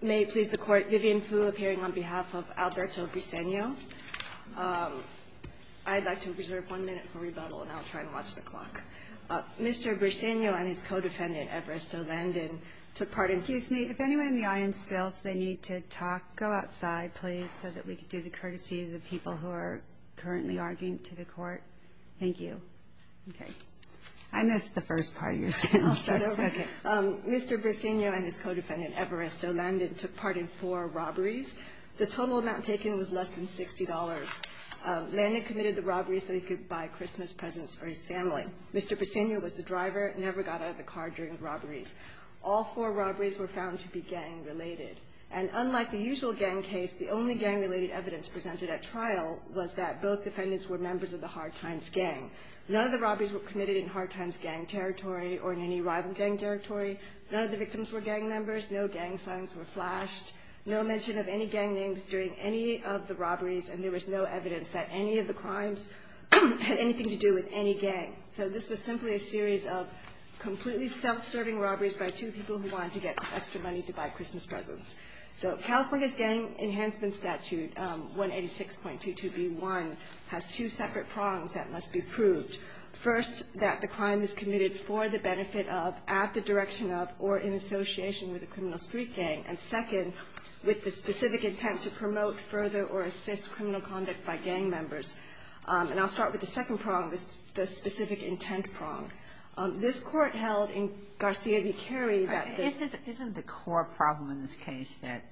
May it please the Court, Vivian Fu appearing on behalf of Alberto Briceño. I'd like to reserve one minute for rebuttal, and I'll try and watch the clock. Mr. Briceño and his co-defendant, Evaristo Landon, took part in Excuse me. If anyone in the audience feels they need to talk, go outside, please, so that we can do the courtesy of the people who are currently arguing to the Court. Thank you. Okay. I missed the first part of your sentence. I'll start over. Okay. Mr. Briceño and his co-defendant, Evaristo Landon, took part in four robberies. The total amount taken was less than $60. Landon committed the robberies so he could buy Christmas presents for his family. Mr. Briceño was the driver, never got out of the car during the robberies. All four robberies were found to be gang-related. And unlike the usual gang case, the only gang-related evidence presented at trial was that both defendants were members of the Hard Times Gang. None of the robberies were committed in Hard Times Gang territory or in any rival gang territory. None of the victims were gang members. No gang signs were flashed. No mention of any gang names during any of the robberies, and there was no evidence that any of the crimes had anything to do with any gang. So this was simply a series of completely self-serving robberies by two people who wanted to get some extra money to buy Christmas presents. So California's Gang Enhancement Statute, 186.22b1, has two separate prongs that must be proved. First, that the crime is committed for the benefit of, at the direction of, or in association with a criminal street gang. And second, with the specific intent to promote further or assist criminal conduct by gang members. And I'll start with the second prong, the specific intent prong. This Court held in Garcia v. Carey that the ---- Kagan, isn't the core problem in this case that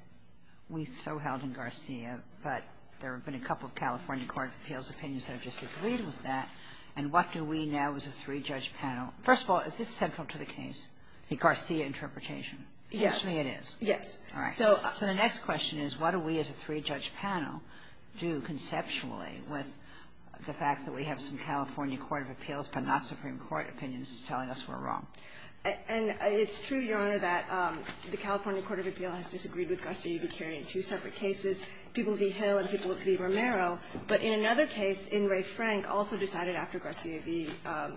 we so held in Garcia, but there have been a couple of California court of appeals opinions that have disagreed with that, and what do we now as a three-judge panel ---- First of all, is this central to the case, the Garcia interpretation? Actually, it is. Yes. All right. So the next question is, what do we as a three-judge panel do conceptually with the fact that we have some California court of appeals but not Supreme Court opinions telling us we're wrong? And it's true, Your Honor, that the California court of appeals has disagreed with Garcia v. Carey in two separate cases. People v. Hill and people v. Romero. But in another case, In re Frank also decided after Garcia v.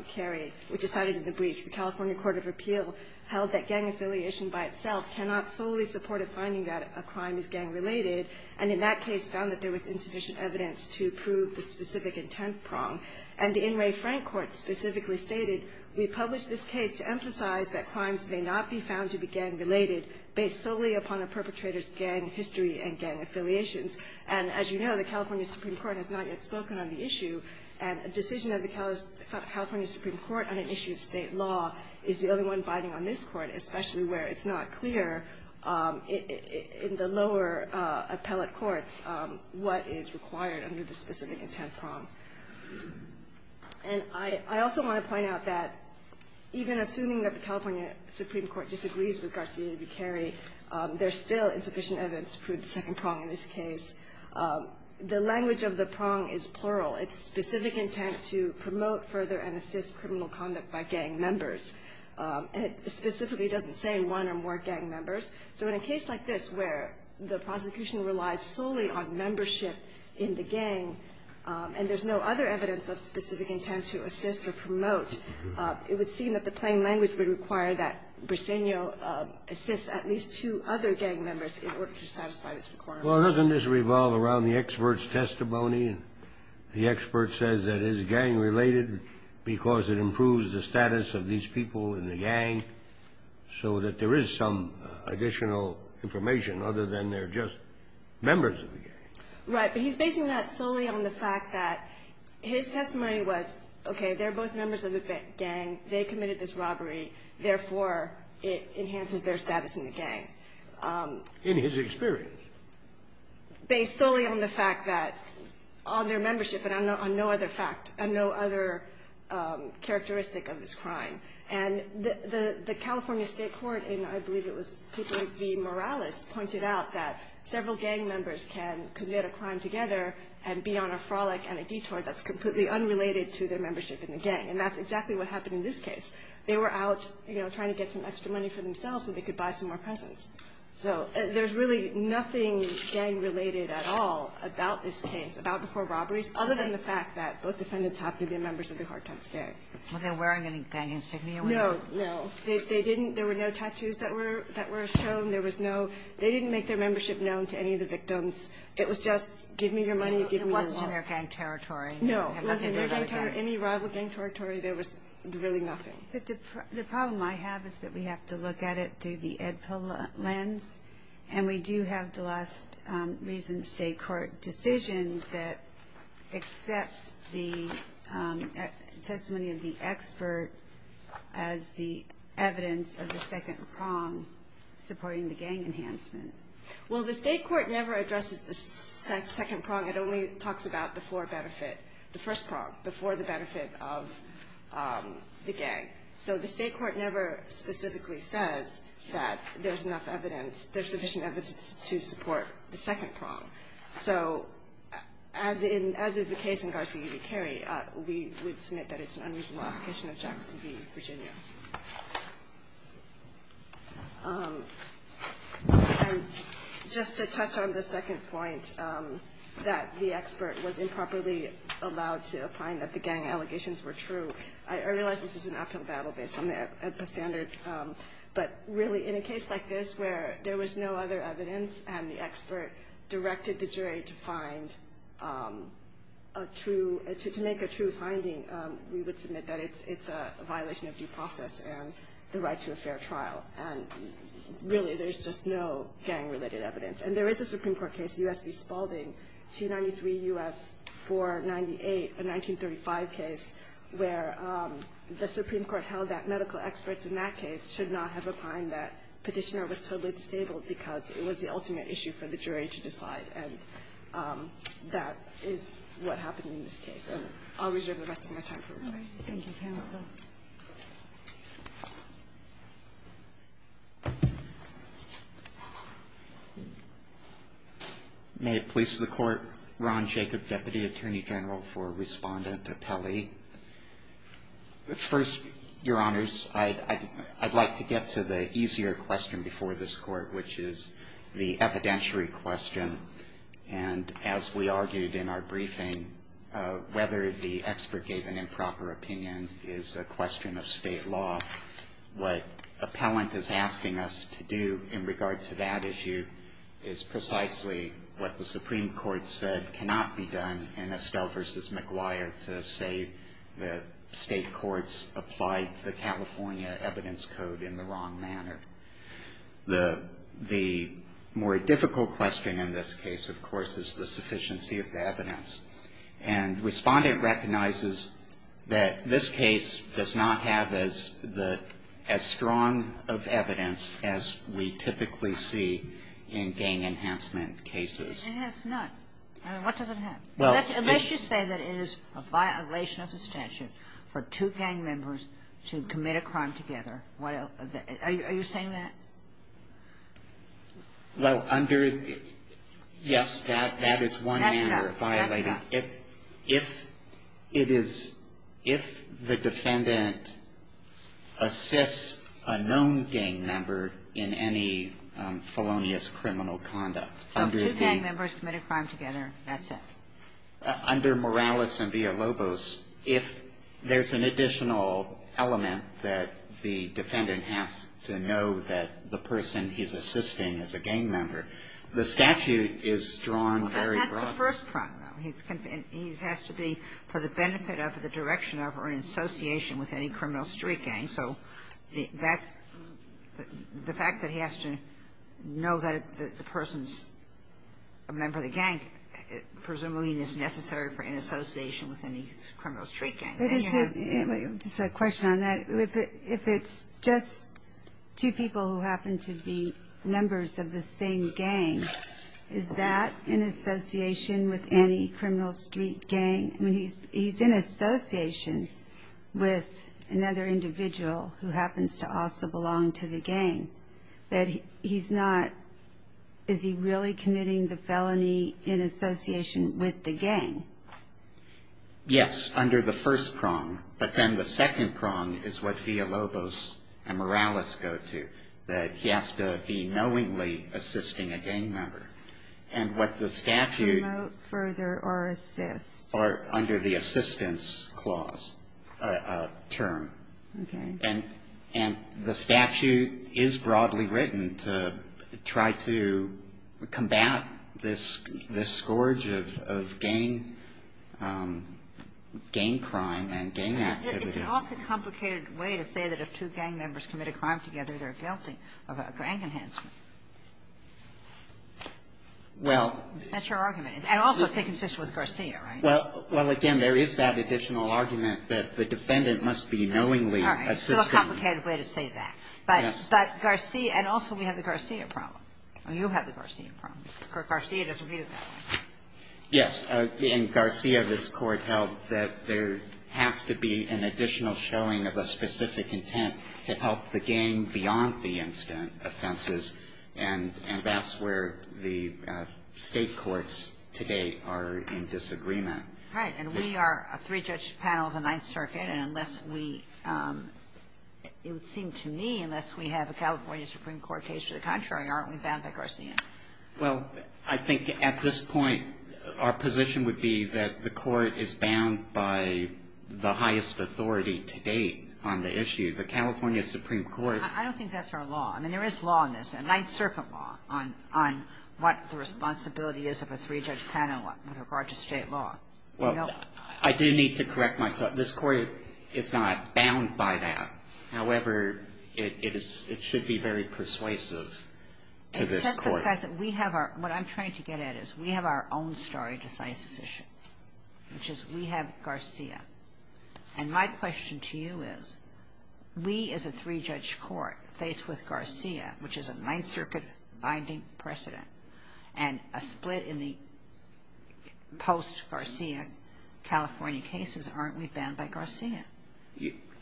Carey, which decided in the briefs, the California court of appeals held that gang affiliation by itself cannot solely support a finding that a crime is gang-related, and in that case found that there was insufficient evidence to prove the specific intent prong. And the In re Frank court specifically stated, We publish this case to emphasize that crimes may not be found to be gang-related based solely upon a perpetrator's gang history and gang affiliations. And as you know, the California Supreme Court has not yet spoken on the issue, and a decision of the California Supreme Court on an issue of State law is the only one biding on this Court, especially where it's not clear in the lower appellate courts what is required under the specific intent prong. And I also want to point out that even assuming that the California Supreme Court disagrees with Garcia v. Carey, there's still insufficient evidence to prove the second prong in this case. The language of the prong is plural. It's specific intent to promote further and assist criminal conduct by gang members. And it specifically doesn't say one or more gang members. So in a case like this where the prosecution relies solely on membership in the gang and there's no other evidence of specific intent to assist or promote, it would require that Briseño assist at least two other gang members in order to satisfy this requirement. Well, doesn't this revolve around the expert's testimony? The expert says that it is gang-related because it improves the status of these people in the gang, so that there is some additional information other than they're just members of the gang. Right. But he's basing that solely on the fact that his testimony was, okay, they're both members of the gang. They committed this robbery. Therefore, it enhances their status in the gang. In his experience. Based solely on the fact that on their membership and on no other fact, on no other characteristic of this crime. And the California State Court in, I believe it was, the Morales pointed out that several gang members can commit a crime together and be on a frolic and a detour that's completely unrelated to their membership in the gang. And that's exactly what happened in this case. They were out, you know, trying to get some extra money for themselves so they could buy some more presents. So there's really nothing gang-related at all about this case, about the four robberies, other than the fact that both defendants happen to be members of the Hartox Gang. Were they wearing any gang insignia? No, no. They didn't. There were no tattoos that were shown. There was no they didn't make their membership known to any of the victims. It was just give me your money, give me your wallet. It wasn't in their gang territory. No. It wasn't in their gang territory. Any rival gang territory, there was really nothing. But the problem I have is that we have to look at it through the Ed Pill lens, and we do have the last recent state court decision that accepts the testimony of the expert as the evidence of the second prong supporting the gang enhancement. Well, the state court never addresses the second prong. It only talks about the four benefit, the first prong, the four of the benefit of the gang. So the state court never specifically says that there's enough evidence, there's sufficient evidence to support the second prong. So as is the case in Garcia v. Cary, we would submit that it's an unreasonable application of Jackson v. Virginia. And just to touch on the second point, that the expert was improperly allowed to find that the gang allegations were true, I realize this is an uphill battle based on the Ed Pill standards, but really in a case like this where there was no other evidence and the expert directed the jury to find a true, to make a true finding, we would submit that it's a violation of due process and the right to a fair trial. And really there's just no gang-related evidence. And there is a Supreme Court case, U.S. v. Spalding, 293 U.S. 498, a 1935 case, where the Supreme Court held that medical experts in that case should not have opined that Petitioner was totally disabled because it was the ultimate issue for the jury to decide, and that is what happened in this case. So I'll reserve the rest of my time for questions. Thank you, counsel. May it please the Court. Ron Jacob, Deputy Attorney General for Respondent Pele. First, Your Honors, I'd like to get to the easier question before this Court, which is the evidentiary question. And as we argued in our briefing, whether the expert gave an improper opinion is a question of State law. What appellant is asking us to do in regard to that issue is precisely what the Supreme Court said cannot be done in Estell v. McGuire to say the State courts applied the California Evidence Code in the wrong manner. The more difficult question in this case, of course, is the sufficiency of the evidence. And Respondent recognizes that this case does not have as strong of evidence as we typically see in gang enhancement cases. It has none. What does it have? Unless you say that it is a violation of the statute for two gang members to commit a crime together. Are you saying that? Yes, that is one manner of violating. That's correct. If the defendant assists a known gang member in any felonious criminal conduct. So two gang members committed a crime together. That's it. Under Morales and Villalobos, if there's an additional element that the defendant has to know that the person he's assisting is a gang member, the statute is drawn very broadly. That's the first problem. He has to be, for the benefit of the direction of or in association with any criminal street gang. So that the fact that he has to know that the person's a member of the gang, presumably is necessary for in association with any criminal street gang. Just a question on that. If it's just two people who happen to be members of the same gang, is that in association with any criminal street gang? I mean, he's in association with another individual who happens to also belong to the gang. That he's not, is he really committing the felony in association with the gang? Yes, under the first prong. But then the second prong is what Villalobos and Morales go to. That he has to be knowingly assisting a gang member. And what the statute. Promote, further, or assist. Or under the assistance clause, term. Okay. And the statute is broadly written to try to combat this scourge of gang crime and gang activity. It's an awfully complicated way to say that if two gang members commit a crime together, they're guilty of a gang enhancement. Well. That's your argument. And also to assist with Garcia, right? Well, again, there is that additional argument that the defendant must be knowingly assisting. It's still a complicated way to say that. Yes. But Garcia, and also we have the Garcia problem. You have the Garcia problem. Garcia doesn't read it that way. Yes. In Garcia, this Court held that there has to be an additional showing of a specific intent to help the gang beyond the incident offenses, and that's where the State courts today are in disagreement. Right. And we are a three-judge panel of the Ninth Circuit, and unless we – it would seem to me, unless we have a California Supreme Court case to the contrary, aren't we bound by Garcia? Well, I think at this point, our position would be that the Court is bound by the highest authority to date on the issue. The California Supreme Court – I don't think that's our law. I mean, there is law in this, a Ninth Circuit law, on what the responsibility is of a three-judge panel with regard to State law. Well, I do need to correct myself. This Court is not bound by that. However, it is – it should be very persuasive to this Court. Except the fact that we have our – what I'm trying to get at is we have our own story to size this issue, which is we have Garcia. And my question to you is, we as a three-judge court faced with Garcia, which is a post-Garcia California case, aren't we bound by Garcia?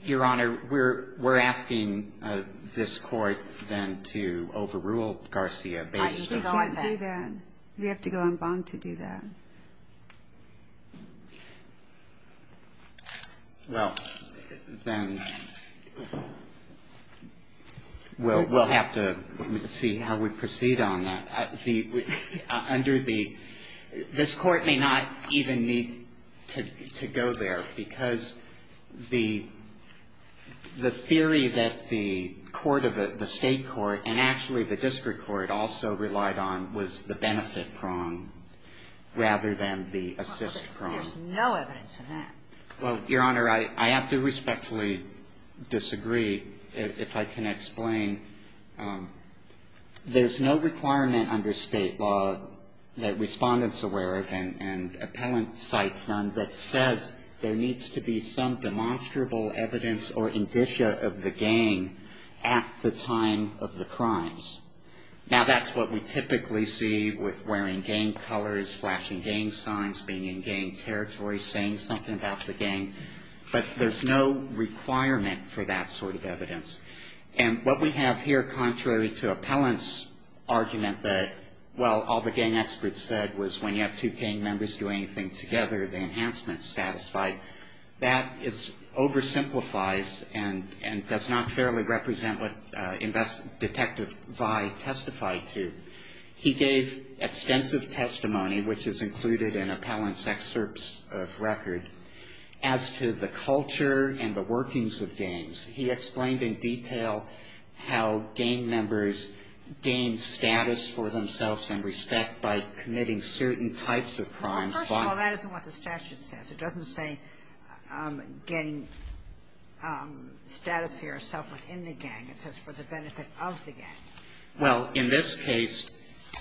Your Honor, we're asking this Court then to overrule Garcia based on that. You can't do that. You have to go on bond to do that. Well, then, we'll have to see how we proceed on that. But, Your Honor, under the – this Court may not even need to go there, because the theory that the court of the State court and actually the district court also relied on was the benefit prong rather than the assist prong. There's no evidence of that. Well, Your Honor, I have to respectfully disagree if I can explain. There's no requirement under State law that respondents aware of and appellant sites none that says there needs to be some demonstrable evidence or indicia of the gang at the time of the crimes. Now, that's what we typically see with wearing gang colors, flashing gang signs, being in gang territory, saying something about the gang. But there's no requirement for that sort of evidence. And what we have here contrary to appellant's argument that, well, all the gang experts said was when you have two gang members doing anything together, the enhancement's satisfied. That oversimplifies and does not fairly represent what Detective Vy testified to. He gave extensive testimony, which is included in appellant's excerpts of record, as to the culture and the workings of gangs. He explained in detail how gang members gain status for themselves and respect by committing certain types of crimes. Well, first of all, that isn't what the statute says. It doesn't say getting status for yourself within the gang. It says for the benefit of the gang. Well, in this case,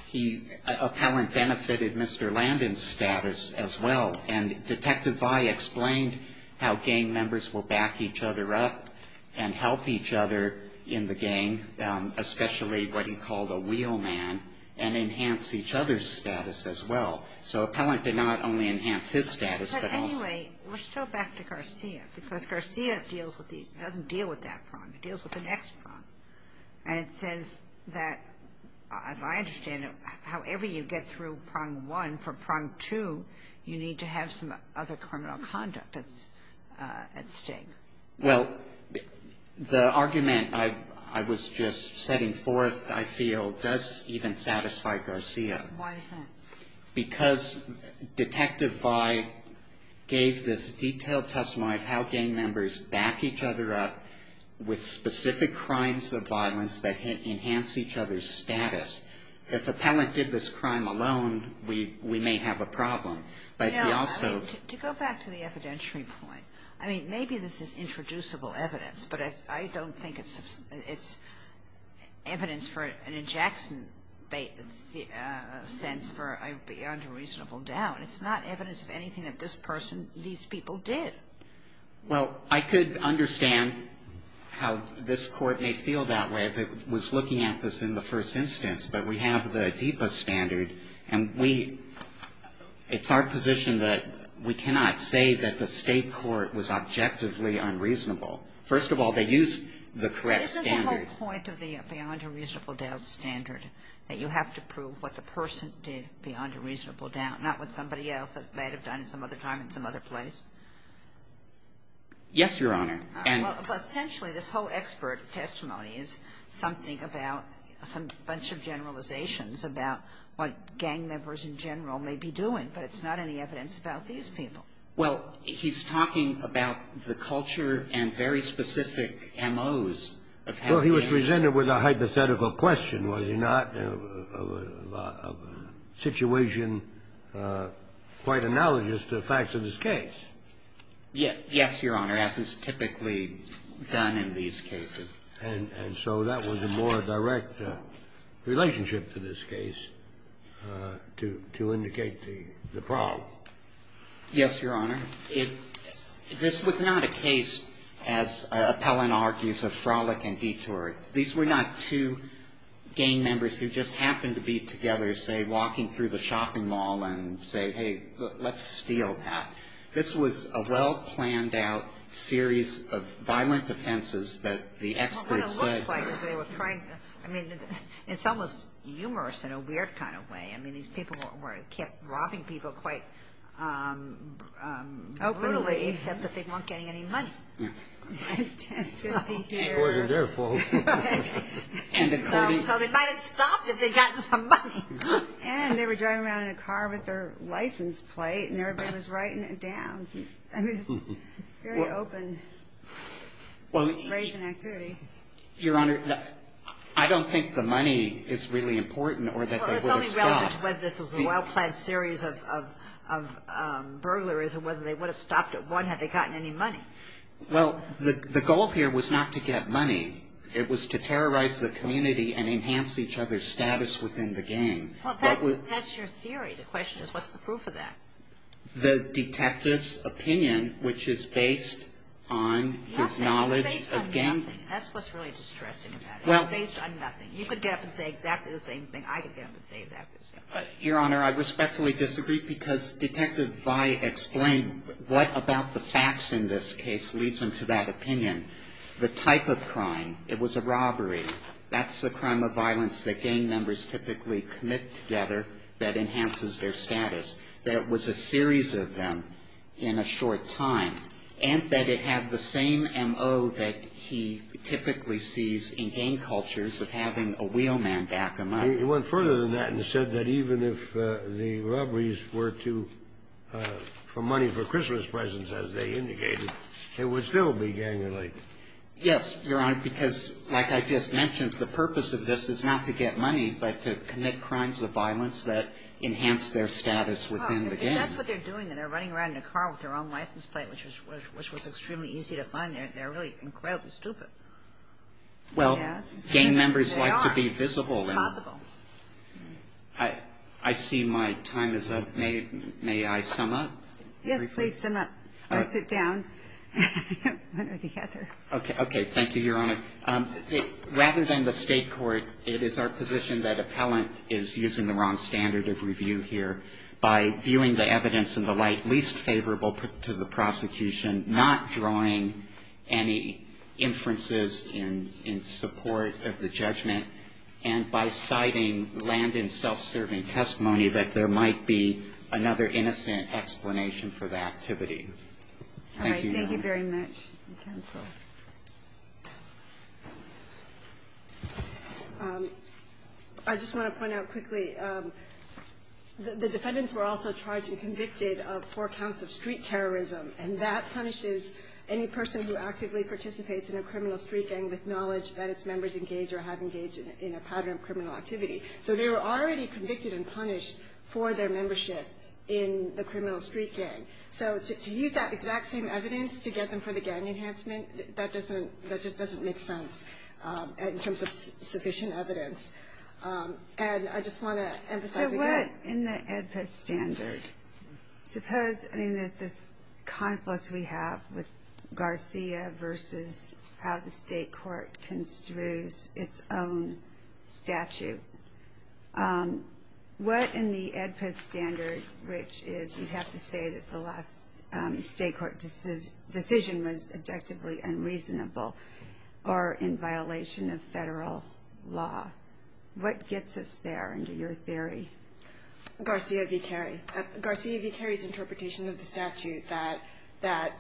he, appellant benefited Mr. Landon's status as well. And Detective Vy explained how gang members will back each other up and help each other in the gang, especially what he called a wheel man, and enhance each other's status as well. So appellant did not only enhance his status, but all. But anyway, we're still back to Garcia, because Garcia deals with the, doesn't deal with that prong. It deals with the next prong. And it says that, as I understand it, however you get through prong one, and for prong two, you need to have some other criminal conduct at stake. Well, the argument I was just setting forth, I feel, does even satisfy Garcia. Why is that? Because Detective Vy gave this detailed testimony of how gang members back each other up with specific crimes of violence that enhance each other's status. If appellant did this crime alone, we may have a problem. But he also ---- No. To go back to the evidentiary point, I mean, maybe this is introducible evidence, but I don't think it's evidence for an in Jackson sense for a beyond a reasonable doubt. It's not evidence of anything that this person, these people did. Well, I could understand how this Court may feel that way if it was looking at this in the first instance. But we have the DEPA standard, and we ---- it's our position that we cannot say that the State court was objectively unreasonable. First of all, they used the correct standard. Isn't the whole point of the beyond a reasonable doubt standard that you have to prove what the person did beyond a reasonable doubt, not what somebody else might have done at some other time in some other place? Yes, Your Honor. Well, essentially, this whole expert testimony is something about some bunch of generalizations about what gang members in general may be doing, but it's not any evidence about these people. Well, he's talking about the culture and very specific M.O.s of ---- Well, he was presented with a hypothetical question, was he not, of a situation quite analogous to the facts of this case? Yes, Your Honor. He was presented with a hypothetical question, was he not, of a situation quite analogous to the facts of this case? Yes, Your Honor. And so that was a more direct relationship to this case to indicate the problem. Yes, Your Honor. This was not a case, as Appellant argues, of frolic and detour. These were not two gang members who just happened to be together, say, walking through the shopping mall and say, hey, let's steal that. This was a well-planned-out series of violent offenses that the experts said ---- Well, what it looks like is they were trying to ---- I mean, it's almost humorous in a weird kind of way. I mean, these people kept robbing people quite brutally, except that they weren't getting any money. Yes. So they might have stopped if they got some money. And they were driving around in a car with their license plate, and everybody was writing it down. I mean, it's very open, raising activity. Your Honor, I don't think the money is really important or that they would have stopped, whether this was a well-planned series of burglaries or whether they would have stopped at one had they gotten any money. Well, the goal here was not to get money. It was to terrorize the community and enhance each other's status within the gang. Well, that's your theory. The question is, what's the proof of that? The detective's opinion, which is based on his knowledge of gang ---- It's based on nothing. That's what's really distressing about it. It's based on nothing. You could get up and say exactly the same thing I could get up and say exactly the same thing. Your Honor, I respectfully disagree, because Detective Vi explained what about the facts in this case leads him to that opinion. The type of crime, it was a robbery. That's the crime of violence that gang members typically commit together that enhances their status. That it was a series of them in a short time, and that it had the same M.O. that he had. He went further than that and said that even if the robberies were for money for Christmas presents, as they indicated, it would still be gang-related. Yes, Your Honor, because like I just mentioned, the purpose of this is not to get money, but to commit crimes of violence that enhance their status within the gang. Well, that's what they're doing. They're running around in a car with their own license plate, which was extremely easy to find. They're really incredibly stupid. Well, gang members like to be visible. It's possible. I see my time is up. May I sum up? Yes, please sum up. Or sit down. One or the other. Okay. Thank you, Your Honor. Rather than the state court, it is our position that appellant is using the wrong standard of review here by viewing the evidence in the light least favorable to the in support of the judgment and by citing Landon's self-serving testimony that there might be another innocent explanation for the activity. Thank you, Your Honor. All right. Thank you very much. Counsel. I just want to point out quickly, the defendants were also charged and convicted of four counts of street terrorism, and that punishes any person who actively participates in a criminal street gang with knowledge that its members engage or have engaged in a pattern of criminal activity. So they were already convicted and punished for their membership in the criminal street gang. So to use that exact same evidence to get them for the gang enhancement, that just doesn't make sense in terms of sufficient evidence. And I just want to emphasize again. What in the AEDPA standard, suppose this conflict we have with Garcia versus how the state court construes its own statute, what in the AEDPA standard, which is you'd have to say that the last state court decision was objectively unreasonable or in violation of federal law, what gets us there under your interpretation of the statute?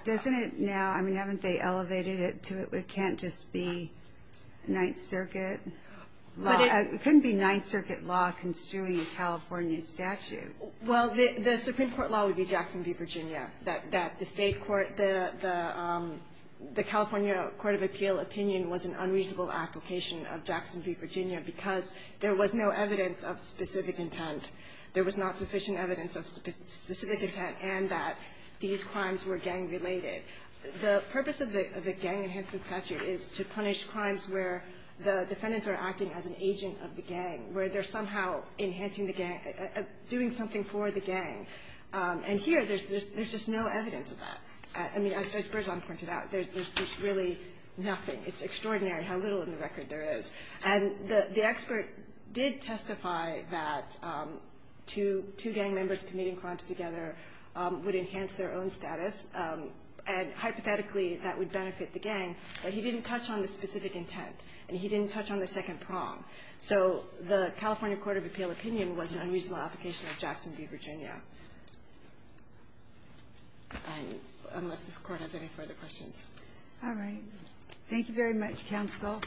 Doesn't it now, I mean, haven't they elevated it to it can't just be Ninth Circuit law? It couldn't be Ninth Circuit law construing a California statute. Well, the Supreme Court law would be Jackson v. Virginia, that the state court, the California Court of Appeal opinion was an unreasonable application of Jackson v. Virginia because there was no evidence of specific intent. There was not sufficient evidence of specific intent and that these crimes were gang related. The purpose of the gang enhancement statute is to punish crimes where the defendants are acting as an agent of the gang, where they're somehow enhancing the gang, doing something for the gang. And here, there's just no evidence of that. I mean, as Judge Berzon pointed out, there's really nothing. It's extraordinary how little in the record there is. And the expert did testify that two gang members committing crimes together would enhance their own status, and hypothetically, that would benefit the gang, but he didn't touch on the specific intent and he didn't touch on the second prong. So the California Court of Appeal opinion was an unreasonable application of Jackson v. Virginia, unless the Court has any further questions. All right. Thank you very much, counsel.